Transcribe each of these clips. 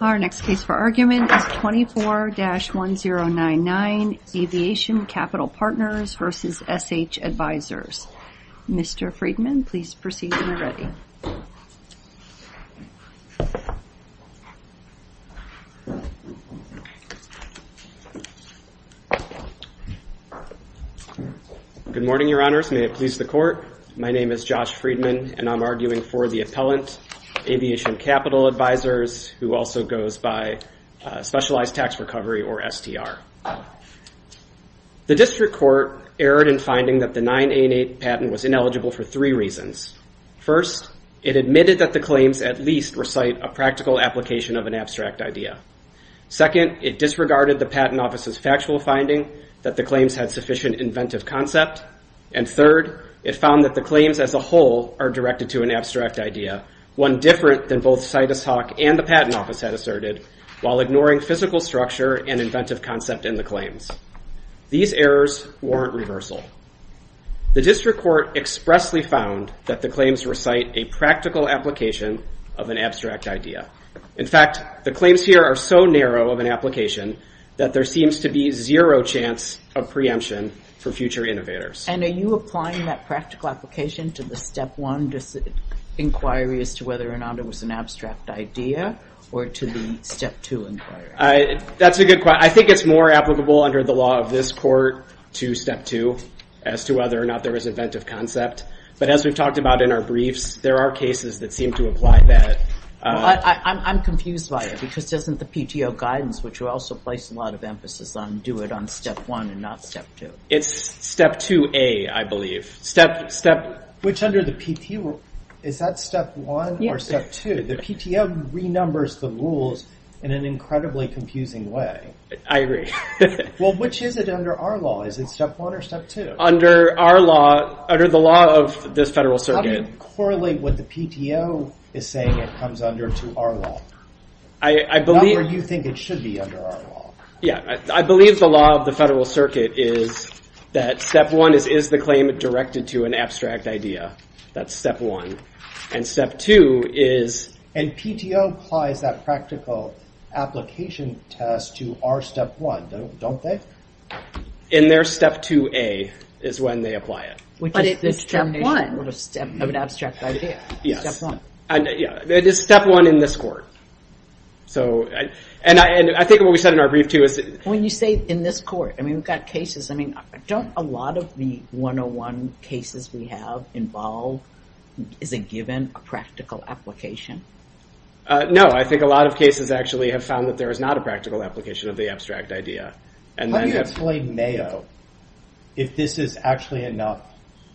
Our next case for argument is 24-1099 Aviation Capital Partners v. SH Advisors. Mr. Friedman, please proceed when you're ready. Good morning, Your Honors. May it please the Court? My name is Josh Friedman, and I'm arguing for the appellant Aviation Capital Advisors, who also goes by Specialized Tax Recovery, or STR. The District Court erred in finding that the 988 patent was ineligible for three reasons. First, it admitted that the claims at least recite a practical application of an abstract idea. Second, it disregarded the Patent Office's factual finding that the claims had sufficient inventive concept. And third, it found that the claims as a whole are directed to an abstract idea, one different than both CITUS Talk and the Patent Office had asserted, while ignoring physical structure and inventive concept in the claims. These errors warrant reversal. The District Court expressly found that the claims recite a practical application of an abstract idea. In fact, the claims here are so narrow of an application that there seems to be zero chance of preemption for future innovators. And are you applying that practical application to the Step 1 inquiry, as to whether or not it was an abstract idea, or to the Step 2 inquiry? That's a good question. I think it's more applicable under the law of this Court to Step 2, as to whether or not there was inventive concept. But as we've talked about in our briefs, there are cases that seem to apply that. I'm confused by it, because doesn't the PTO guidance, which you also place a lot of emphasis on, do it on Step 1 and not Step 2? It's Step 2A, I believe. Which under the PTO, is that Step 1 or Step 2? The PTO renumbers the rules in an incredibly confusing way. I agree. Well, which is it under our law? Is it Step 1 or Step 2? Under our law, under the law of this Federal Circuit. How do you correlate what the PTO is saying it comes under to our law? Not where you think it should be under our law. I believe the law of the Federal Circuit is that Step 1 is the claim directed to an abstract idea. That's Step 1. And Step 2 is... And PTO applies that practical application test to our Step 1, don't they? In their Step 2A, is when they apply it. Which is Step 1 of an abstract idea. Step 1. It is Step 1 in this court. And I think what we said in our brief, too, is... When you say in this court, I mean, we've got cases. I mean, don't a lot of the 101 cases we have involve, is it given a practical application? No, I think a lot of cases actually have found that there is not a practical application of the abstract idea. How do you explain Mayo if this is actually enough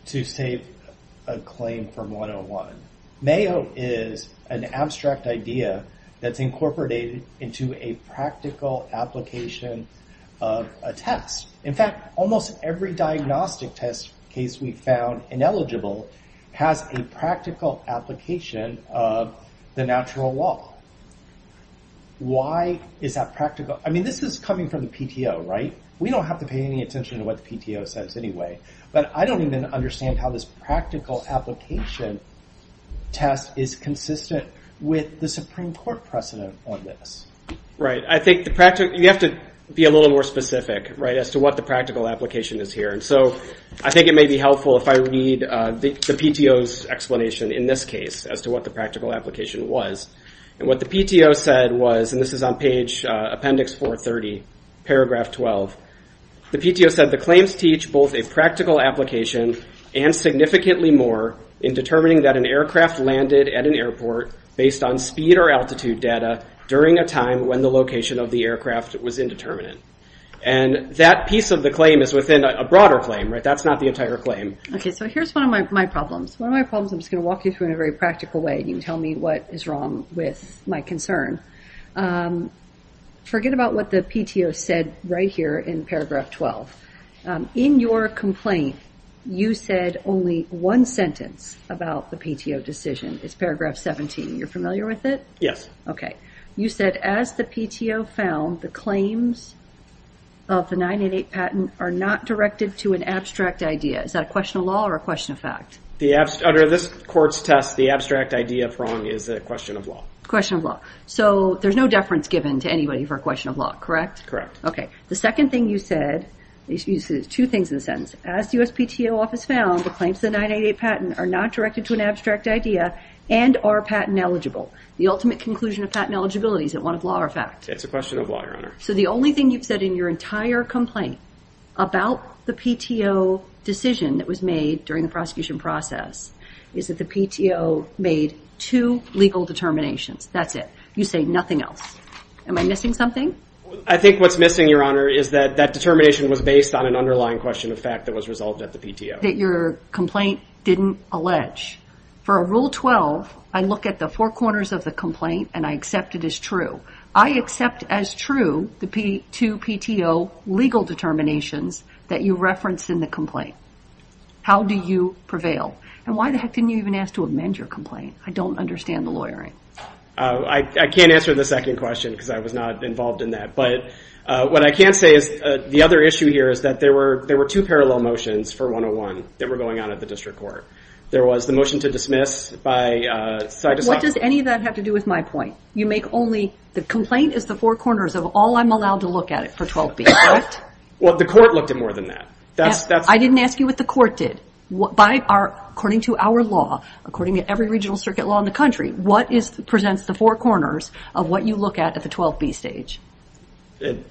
to save a claim from 101? Mayo is an abstract idea that's incorporated into a practical application of a test. In fact, almost every diagnostic test case we've found ineligible has a practical application of the natural law. Why is that practical? I mean, this is coming from the PTO, right? We don't have to pay any attention to what the PTO says anyway. But I don't even understand how this practical application test is consistent with the Supreme Court precedent on this. Right, I think you have to be a little more specific as to what the practical application is here. And so I think it may be helpful if I read the PTO's explanation in this case as to what the practical application was. And what the PTO said was, and this is on page appendix 430, paragraph 12. The PTO said the claims teach both a practical application and significantly more in determining that an aircraft landed at an airport based on speed or altitude data during a time when the location of the aircraft was indeterminate. And that piece of the claim is within a broader claim, right? That's not the entire claim. Okay, so here's one of my problems. One of my problems, I'm just going to walk you through in a very practical way and you can tell me what is wrong with my concern. Forget about what the PTO said right here in paragraph 12. In your complaint, you said only one sentence about the PTO decision. It's paragraph 17. You're familiar with it? Yes. Okay. You said, as the PTO found, the claims of the 988 patent are not directed to an abstract idea. Is that a question of law or a question of fact? Under this court's test, the abstract idea of wrong is a question of law. Question of law. So there's no deference given to anybody for a question of law, correct? Okay. The second thing you said, you said two things in a sentence. As the USPTO office found, the claims of the 988 patent are not directed to an abstract idea and are patent eligible. The ultimate conclusion of patent eligibility, is it one of law or fact? It's a question of law, Your Honor. So the only thing you've said in your entire complaint about the PTO decision that was made during the prosecution process, is that the PTO made two legal determinations. That's it. You say nothing else. Am I missing something? I think what's missing, Your Honor, is that that determination was based on an underlying question of fact that was resolved at the PTO. That your complaint didn't allege. For a Rule 12, I look at the four corners of the complaint and I accept it as true. I accept as true the two PTO legal determinations that you referenced in the complaint. How do you prevail? And why the heck didn't you even ask to amend your complaint? I don't understand the lawyering. I can't answer the second question because I was not involved in that. But what I can say is, the other issue here is that there were two parallel motions for 101 that were going on at the district court. There was the motion to dismiss by... What does any of that have to do with my point? You make only... The complaint is the four corners of all I'm allowed to look at it for 12B, correct? Well, the court looked at more than that. I didn't ask you what the court did. According to our law, according to every regional circuit law in the country, what presents the four corners of what you look at at the 12B stage?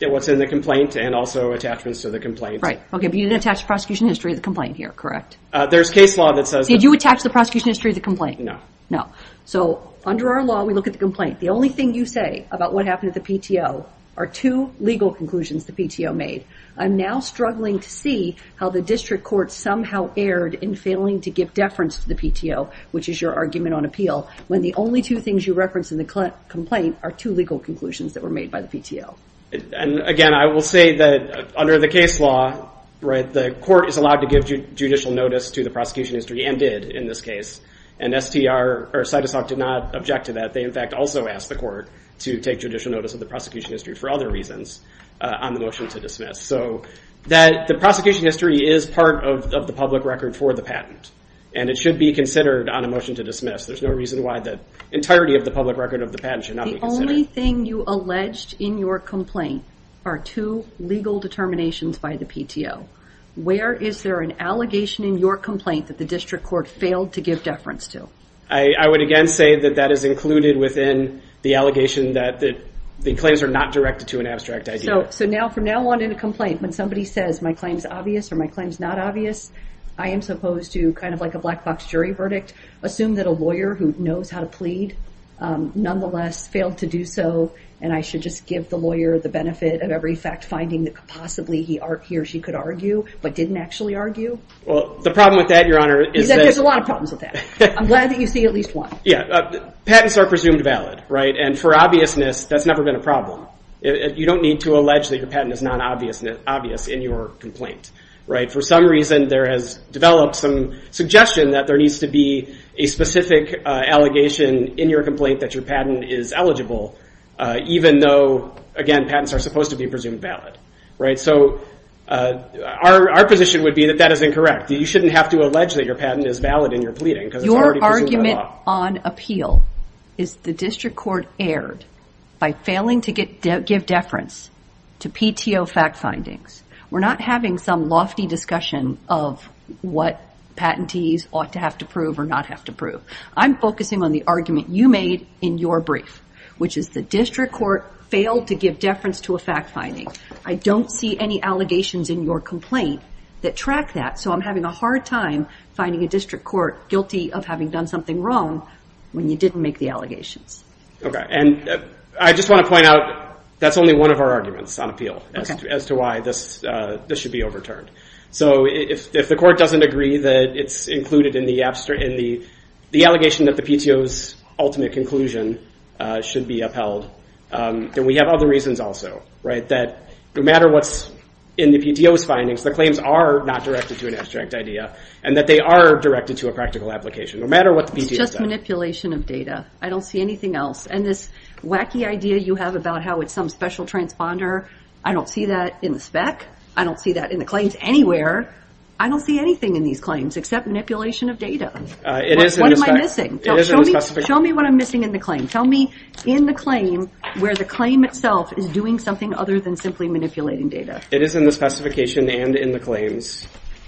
What's in the complaint and also attachments to the complaint. Okay, but you didn't attach the prosecution history of the complaint here, correct? There's case law that says... Did you attach the prosecution history of the complaint? No. No. So under our law, we look at the complaint. The only thing you say about what happened at the PTO are two legal conclusions the PTO made. I'm now struggling to see how the district court somehow erred in failing to give deference to the PTO, which is your argument on appeal, when the only two things you reference in the complaint are two legal conclusions that were made by the PTO. And again, I will say that under the case law, the court is allowed to give judicial notice to the prosecution history and did in this case. And STR or CITESOC did not object to that. They, in fact, also asked the court to take judicial notice of the prosecution history for other reasons on the motion to dismiss. So the prosecution history is part of the public record for the patent, and it should be considered on a motion to dismiss. There's no reason why the entirety of the public record of the patent should not be considered. The only thing you alleged in your complaint are two legal determinations by the PTO. Where is there an allegation in your complaint that the district court failed to give deference to? I would again say that that is included within the allegation that the claims are not directed to an abstract idea. So now from now on in a complaint, when somebody says my claim is obvious or my claim is not obvious, I am supposed to kind of like a black box jury verdict, assume that a lawyer who knows how to plead nonetheless failed to do so. And I should just give the lawyer the benefit of every fact finding that possibly he or she could argue but didn't actually argue? Well, the problem with that, Your Honor, is that- There's a lot of problems with that. I'm glad that you see at least one. Yeah. Patents are presumed valid, right? And for obviousness, that's never been a problem. You don't need to allege that your patent is not obvious in your complaint, right? For some reason, there has developed some suggestion that there needs to be a specific allegation in your complaint that your patent is eligible. Even though, again, patents are supposed to be presumed valid, right? So our position would be that that is incorrect. You shouldn't have to allege that your patent is valid in your pleading because it's already presumed by law. Your argument on appeal is the district court erred by failing to give deference to PTO fact findings. We're not having some lofty discussion of what patentees ought to have to prove or not have to prove. I'm focusing on the argument you made in your brief, which is the district court failed to give deference to a fact finding. I don't see any allegations in your complaint that track that. So I'm having a hard time finding a district court guilty of having done something wrong when you didn't make the allegations. Okay. And I just want to point out that's only one of our arguments on appeal as to why this should be overturned. So if the court doesn't agree that it's included in the allegation that the PTO's ultimate conclusion should be upheld, then we have other reasons also, right? That no matter what's in the PTO's findings, the claims are not directed to an abstract idea, and that they are directed to a practical application, no matter what the PTO says. It's just manipulation of data. I don't see anything else. And this wacky idea you have about how it's some special transponder, I don't see that in the spec. I don't see that in the claims anywhere. I don't see anything in these claims except manipulation of data. It is in the spec. What am I missing? It is in the spec. Show me what I'm missing in the claim. Tell me in the claim where the claim itself is doing something other than simply manipulating data. It is in the specification and in the claims.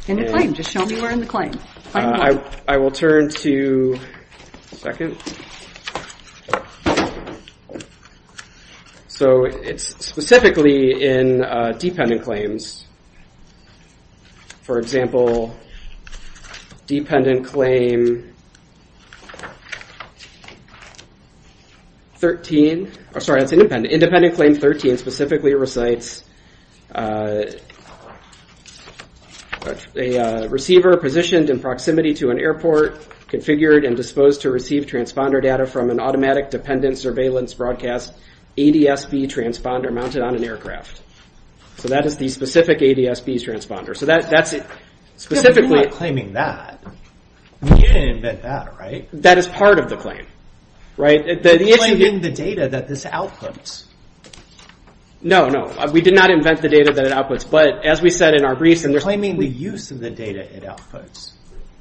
In the claim. Just show me where in the claim. I will turn to second. So it's specifically in dependent claims. For example, dependent claim 13. Sorry, that's independent. Independent claim 13 specifically recites a receiver positioned in proximity to an airport, configured and disposed to receive transponder data from an automatic dependent surveillance broadcast ADS-B transponder mounted on an aircraft. So that is the specific ADS-B transponder. So that's it. You're not claiming that. You didn't invent that, right? That is part of the claim, right? You're claiming the data that this outputs. No, no. We did not invent the data that it outputs. But as we said in our briefs. You're claiming the use of the data it outputs.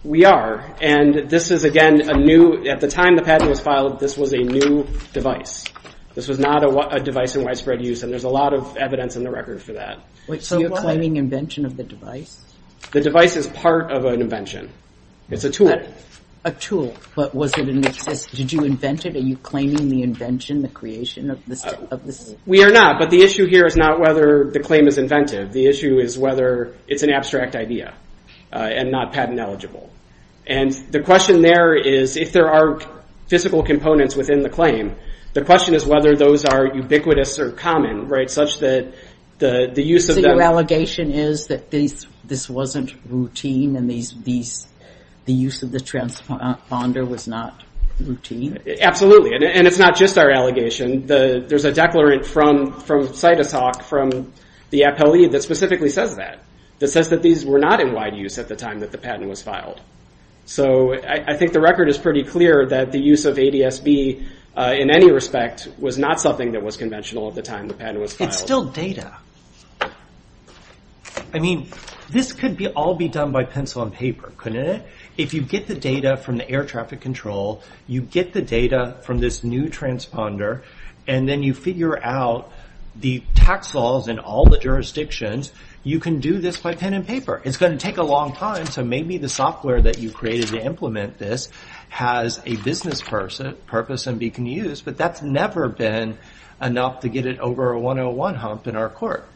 We are. And this is, again, a new. At the time the patent was filed, this was a new device. This was not a device in widespread use. And there's a lot of evidence in the record for that. So you're claiming invention of the device? The device is part of an invention. It's a tool. A tool. But was it in existence? Did you invent it? Are you claiming the invention, the creation of this? We are not. But the issue here is not whether the claim is inventive. The issue is whether it's an abstract idea. And not patent eligible. And the question there is if there are physical components within the claim. The question is whether those are ubiquitous or common. Such that the use of them. So your allegation is that this wasn't routine. And the use of the transponder was not routine? Absolutely. And it's not just our allegation. There's a declarant from CITESOC, from the appellee, that specifically says that. That says that these were not in wide use at the time that the patent was filed. So I think the record is pretty clear that the use of ADS-B in any respect was not something that was conventional at the time the patent was filed. It's still data. I mean, this could all be done by pencil and paper, couldn't it? If you get the data from the air traffic control, you get the data from this new transponder, and then you figure out the tax laws and all the jurisdictions, you can do this by pen and paper. It's going to take a long time. So maybe the software that you created to implement this has a business purpose and can be used. But that's never been enough to get it over a 101 hump in our court.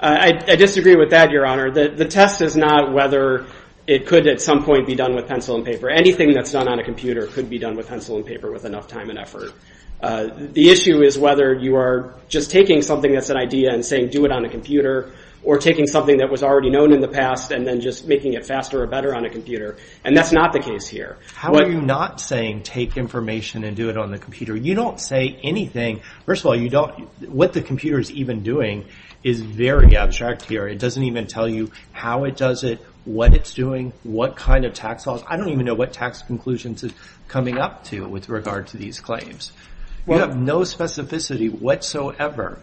I disagree with that, Your Honor. The test is not whether it could at some point be done with pencil and paper. Anything that's done on a computer could be done with pencil and paper with enough time and effort. The issue is whether you are just taking something that's an idea and saying do it on a computer, or taking something that was already known in the past and then just making it faster or better on a computer. And that's not the case here. How are you not saying take information and do it on the computer? You don't say anything. First of all, what the computer is even doing is very abstract here. It doesn't even tell you how it does it, what it's doing, what kind of tax laws. I don't even know what tax conclusions it's coming up to with regard to these claims. You have no specificity whatsoever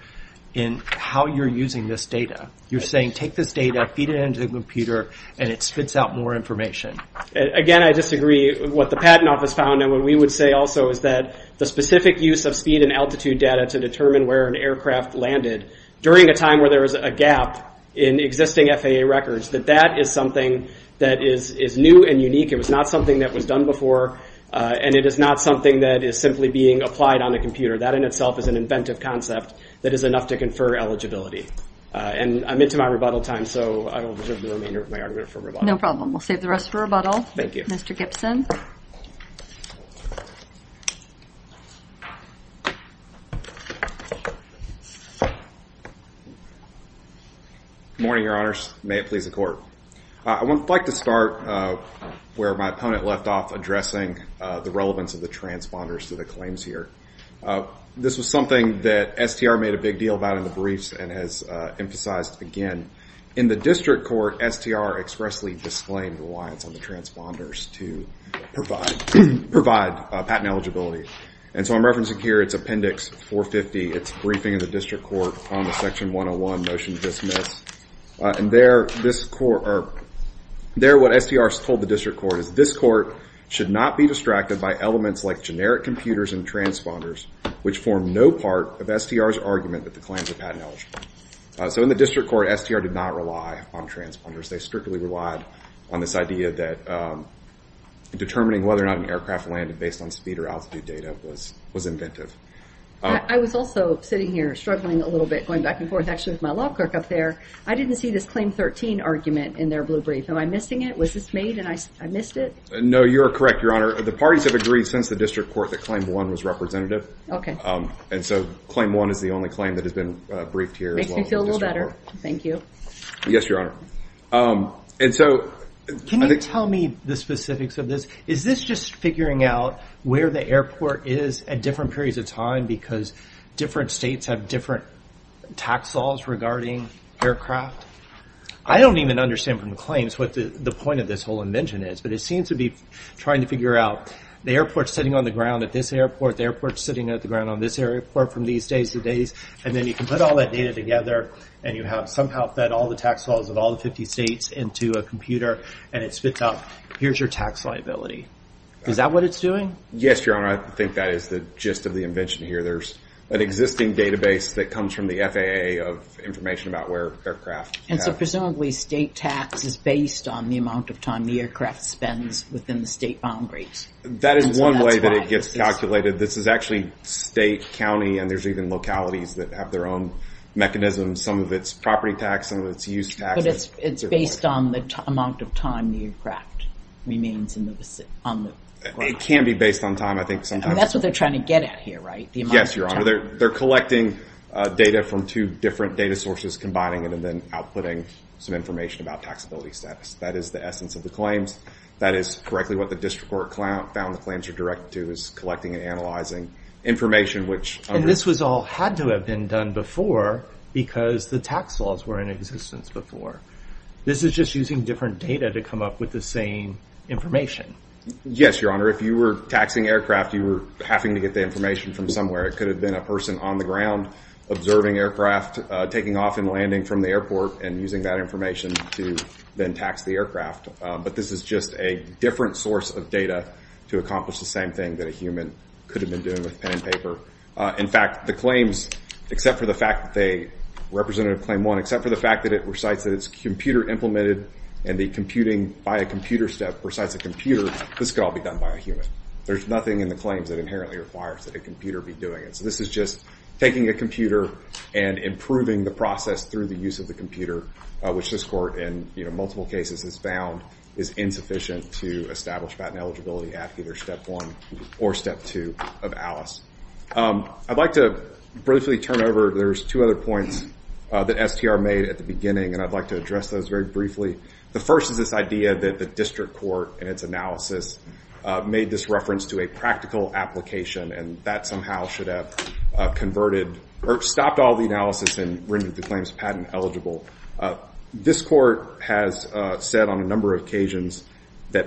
in how you're using this data. You're saying take this data, feed it into the computer, and it spits out more information. Again, I disagree with what the Patent Office found, and what we would say also is that the specific use of speed and altitude data to determine where an aircraft landed during a time where there was a gap in existing FAA records, that that is something that is new and unique. It was not something that was done before, and it is not something that is simply being applied on a computer. That in itself is an inventive concept that is enough to confer eligibility. And I'm into my rebuttal time, so I don't deserve the remainder of my argument for rebuttal. No problem. We'll save the rest for rebuttal. Thank you. Mr. Gibson. Good morning, Your Honors. May it please the Court. I would like to start where my opponent left off, addressing the relevance of the transponders to the claims here. This was something that STR made a big deal about in the briefs and has emphasized again. In the district court, STR expressly disclaimed the reliance on the transponders to provide patent eligibility. And so I'm referencing here, it's Appendix 450. It's briefing of the district court on the Section 101 motion to dismiss. And there, what STR has told the district court is, this court should not be distracted by elements like generic computers and transponders, which form no part of STR's argument that the claims are patent eligible. So in the district court, STR did not rely on transponders. They strictly relied on this idea that determining whether or not an aircraft landed based on speed or altitude data was inventive. I was also sitting here struggling a little bit, going back and forth actually with my law clerk up there. I didn't see this Claim 13 argument in their blue brief. Am I missing it? Was this made and I missed it? No, you're correct, Your Honor. The parties have agreed since the district court that Claim 1 was representative. Okay. And so Claim 1 is the only claim that has been briefed here. Makes me feel a little better. Thank you. Yes, Your Honor. Can you tell me the specifics of this? Is this just figuring out where the airport is at different periods of time because different states have different tax laws regarding aircraft? I don't even understand from the claims what the point of this whole invention is, but it seems to be trying to figure out, the airport's sitting on the ground at this airport, the airport's sitting on the ground at this airport from these days to these, and then you can put all that data together and you have somehow fed all the tax laws of all the 50 states into a computer and it spits out, here's your tax liability. Is that what it's doing? Yes, Your Honor. I think that is the gist of the invention here. There's an existing database that comes from the FAA of information about where aircraft have- And so presumably state tax is based on the amount of time the aircraft spends within the state boundaries. That is one way that it gets calculated. This is actually state, county, and there's even localities that have their own mechanisms. Some of it's property tax, some of it's use tax. But it's based on the amount of time the aircraft remains on the ground. It can be based on time. That's what they're trying to get at here, right? Yes, Your Honor. They're collecting data from two different data sources, combining it and then outputting some information about taxability status. That is the essence of the claims. That is correctly what the district court found the claims are directed to is collecting and analyzing information which- And this all had to have been done before because the tax laws were in existence before. This is just using different data to come up with the same information. Yes, Your Honor. If you were taxing aircraft, you were having to get the information from somewhere. It could have been a person on the ground observing aircraft, taking off and landing from the airport and using that information to then tax the aircraft. But this is just a different source of data to accomplish the same thing that a human could have been doing with pen and paper. In fact, the claims, except for the fact that they- Representative Claim 1, except for the fact that it recites that it's computer implemented and the computing by a computer step recites a computer, this could all be done by a human. There's nothing in the claims that inherently requires that a computer be doing it. So this is just taking a computer and improving the process through the use of the computer, which this court in multiple cases has found is insufficient to establish patent eligibility at either Step 1 or Step 2 of ALICE. I'd like to briefly turn over- There's two other points that STR made at the beginning, and I'd like to address those very briefly. The first is this idea that the district court, in its analysis, made this reference to a practical application, and that somehow should have stopped all the analysis and rendered the claims patent eligible. This court has said on a number of occasions that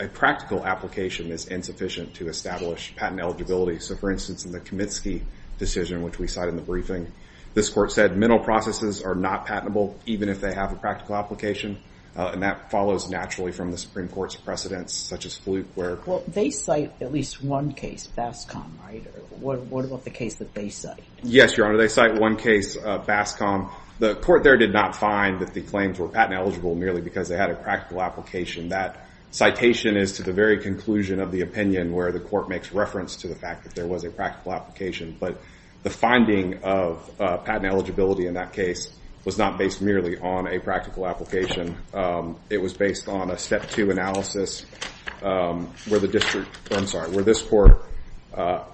a practical application is insufficient to establish patent eligibility. So, for instance, in the Kamitsky decision, which we cited in the briefing, this court said mental processes are not patentable even if they have a practical application, and that follows naturally from the Supreme Court's precedents, such as Fluke, where- Well, they cite at least one case, BASCOM, right? What about the case that they cite? Yes, Your Honor, they cite one case, BASCOM. The court there did not find that the claims were patent eligible merely because they had a practical application. That citation is to the very conclusion of the opinion where the court makes reference to the fact that there was a practical application, but the finding of patent eligibility in that case was not based merely on a practical application. It was based on a Step 2 analysis where the district- I'm sorry, where this court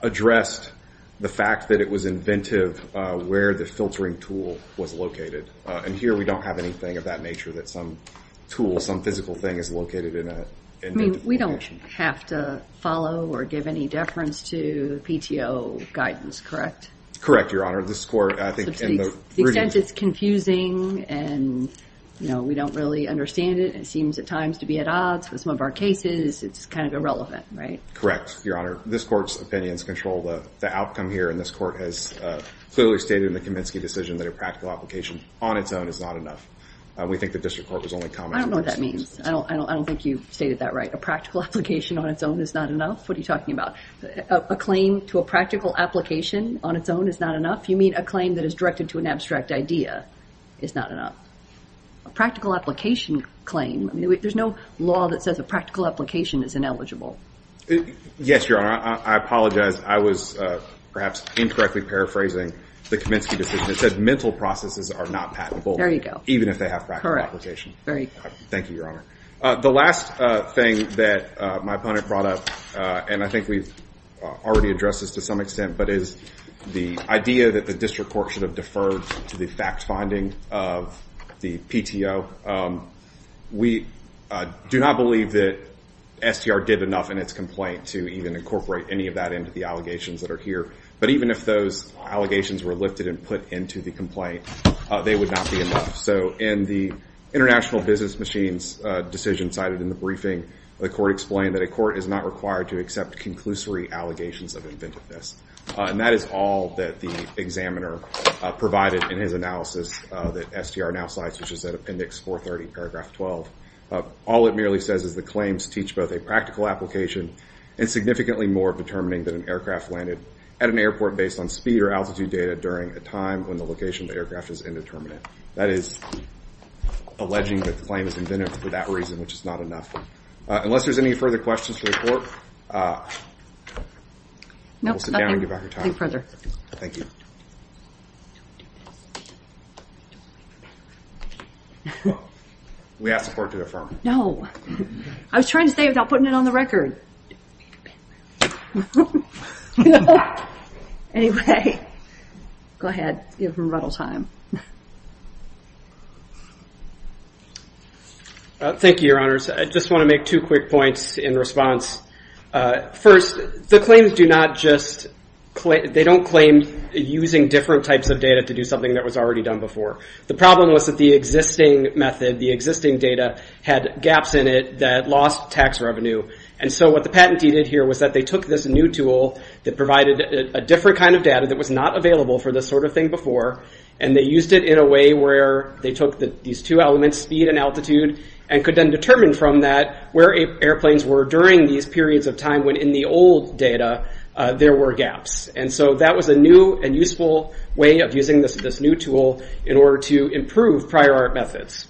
addressed the fact that it was inventive where the filtering tool was located, and here we don't have anything of that nature that some tool, some physical thing is located in a- I mean, we don't have to follow or give any deference to PTO guidance, correct? Correct, Your Honor. This court, I think- To the extent it's confusing and we don't really understand it, it seems at times to be at odds with some of our cases, it's kind of irrelevant, right? Correct, Your Honor. This court's opinions control the outcome here, and this court has clearly stated in the Kaminsky decision that a practical application on its own is not enough. We think the district court was only commenting- I don't know what that means. I don't think you've stated that right. A practical application on its own is not enough? What are you talking about? A claim to a practical application on its own is not enough? You mean a claim that is directed to an abstract idea is not enough? A practical application claim- there's no law that says a practical application is ineligible. Yes, Your Honor. I apologize. I was perhaps incorrectly paraphrasing the Kaminsky decision. It said mental processes are not patentable- There you go. Even if they have practical application. Correct. Very good. Thank you, Your Honor. The last thing that my opponent brought up, and I think we've already addressed this to some extent, but is the idea that the district court should have deferred to the fact finding of the PTO. We do not believe that STR did enough in its complaint to even incorporate any of that into the allegations that are here. But even if those allegations were lifted and put into the complaint, they would not be enough. So in the International Business Machines decision cited in the briefing, the court explained that a court is not required to accept conclusory allegations of inventiveness. And that is all that the examiner provided in his analysis that STR now cites, which is at Appendix 430, Paragraph 12. All it merely says is the claims teach both a practical application and significantly more determining that an aircraft landed at an airport based on speed or altitude data during a time when the location of the aircraft is indeterminate. That is alleging that the claim is inventive for that reason, which is not enough. Unless there's any further questions for the court, we'll sit down and give our time. Thank you. Don't do this. Don't do this. Don't make a bad move. We have support to affirm. No. I was trying to say it without putting it on the record. Don't make a bad move. Anyway, go ahead. Give him a little time. Thank you, Your Honors. I just want to make two quick points in response. First, the claims do not just claim, they don't claim using different types of data to do something that was already done before. The problem was that the existing method, the existing data, had gaps in it that lost tax revenue. And so what the patentee did here was that they took this new tool that provided a different kind of data that was not available for this sort of thing before, and they used it in a way where they took these two elements, speed and altitude, and could then determine from that where airplanes were during these periods of time when in the old data there were gaps. And so that was a new and useful way of using this new tool in order to improve prior art methods.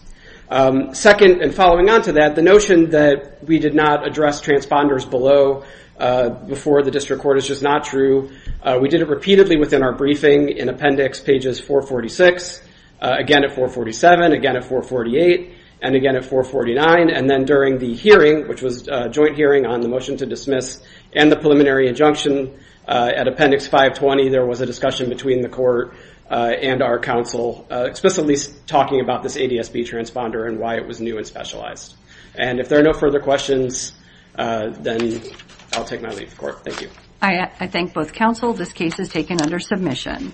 Second, and following on to that, the notion that we did not address transponders below before the district court is just not true. We did it repeatedly within our briefing in appendix pages 446, again at 447, again at 448, and again at 449, and then during the hearing, which was a joint hearing on the motion to dismiss and the preliminary injunction, at appendix 520 there was a discussion between the court and our counsel explicitly talking about this ADS-B transponder and why it was new and specialized. And if there are no further questions, then I'll take my leave of court. Thank you. I thank both counsel. This case is taken under submission.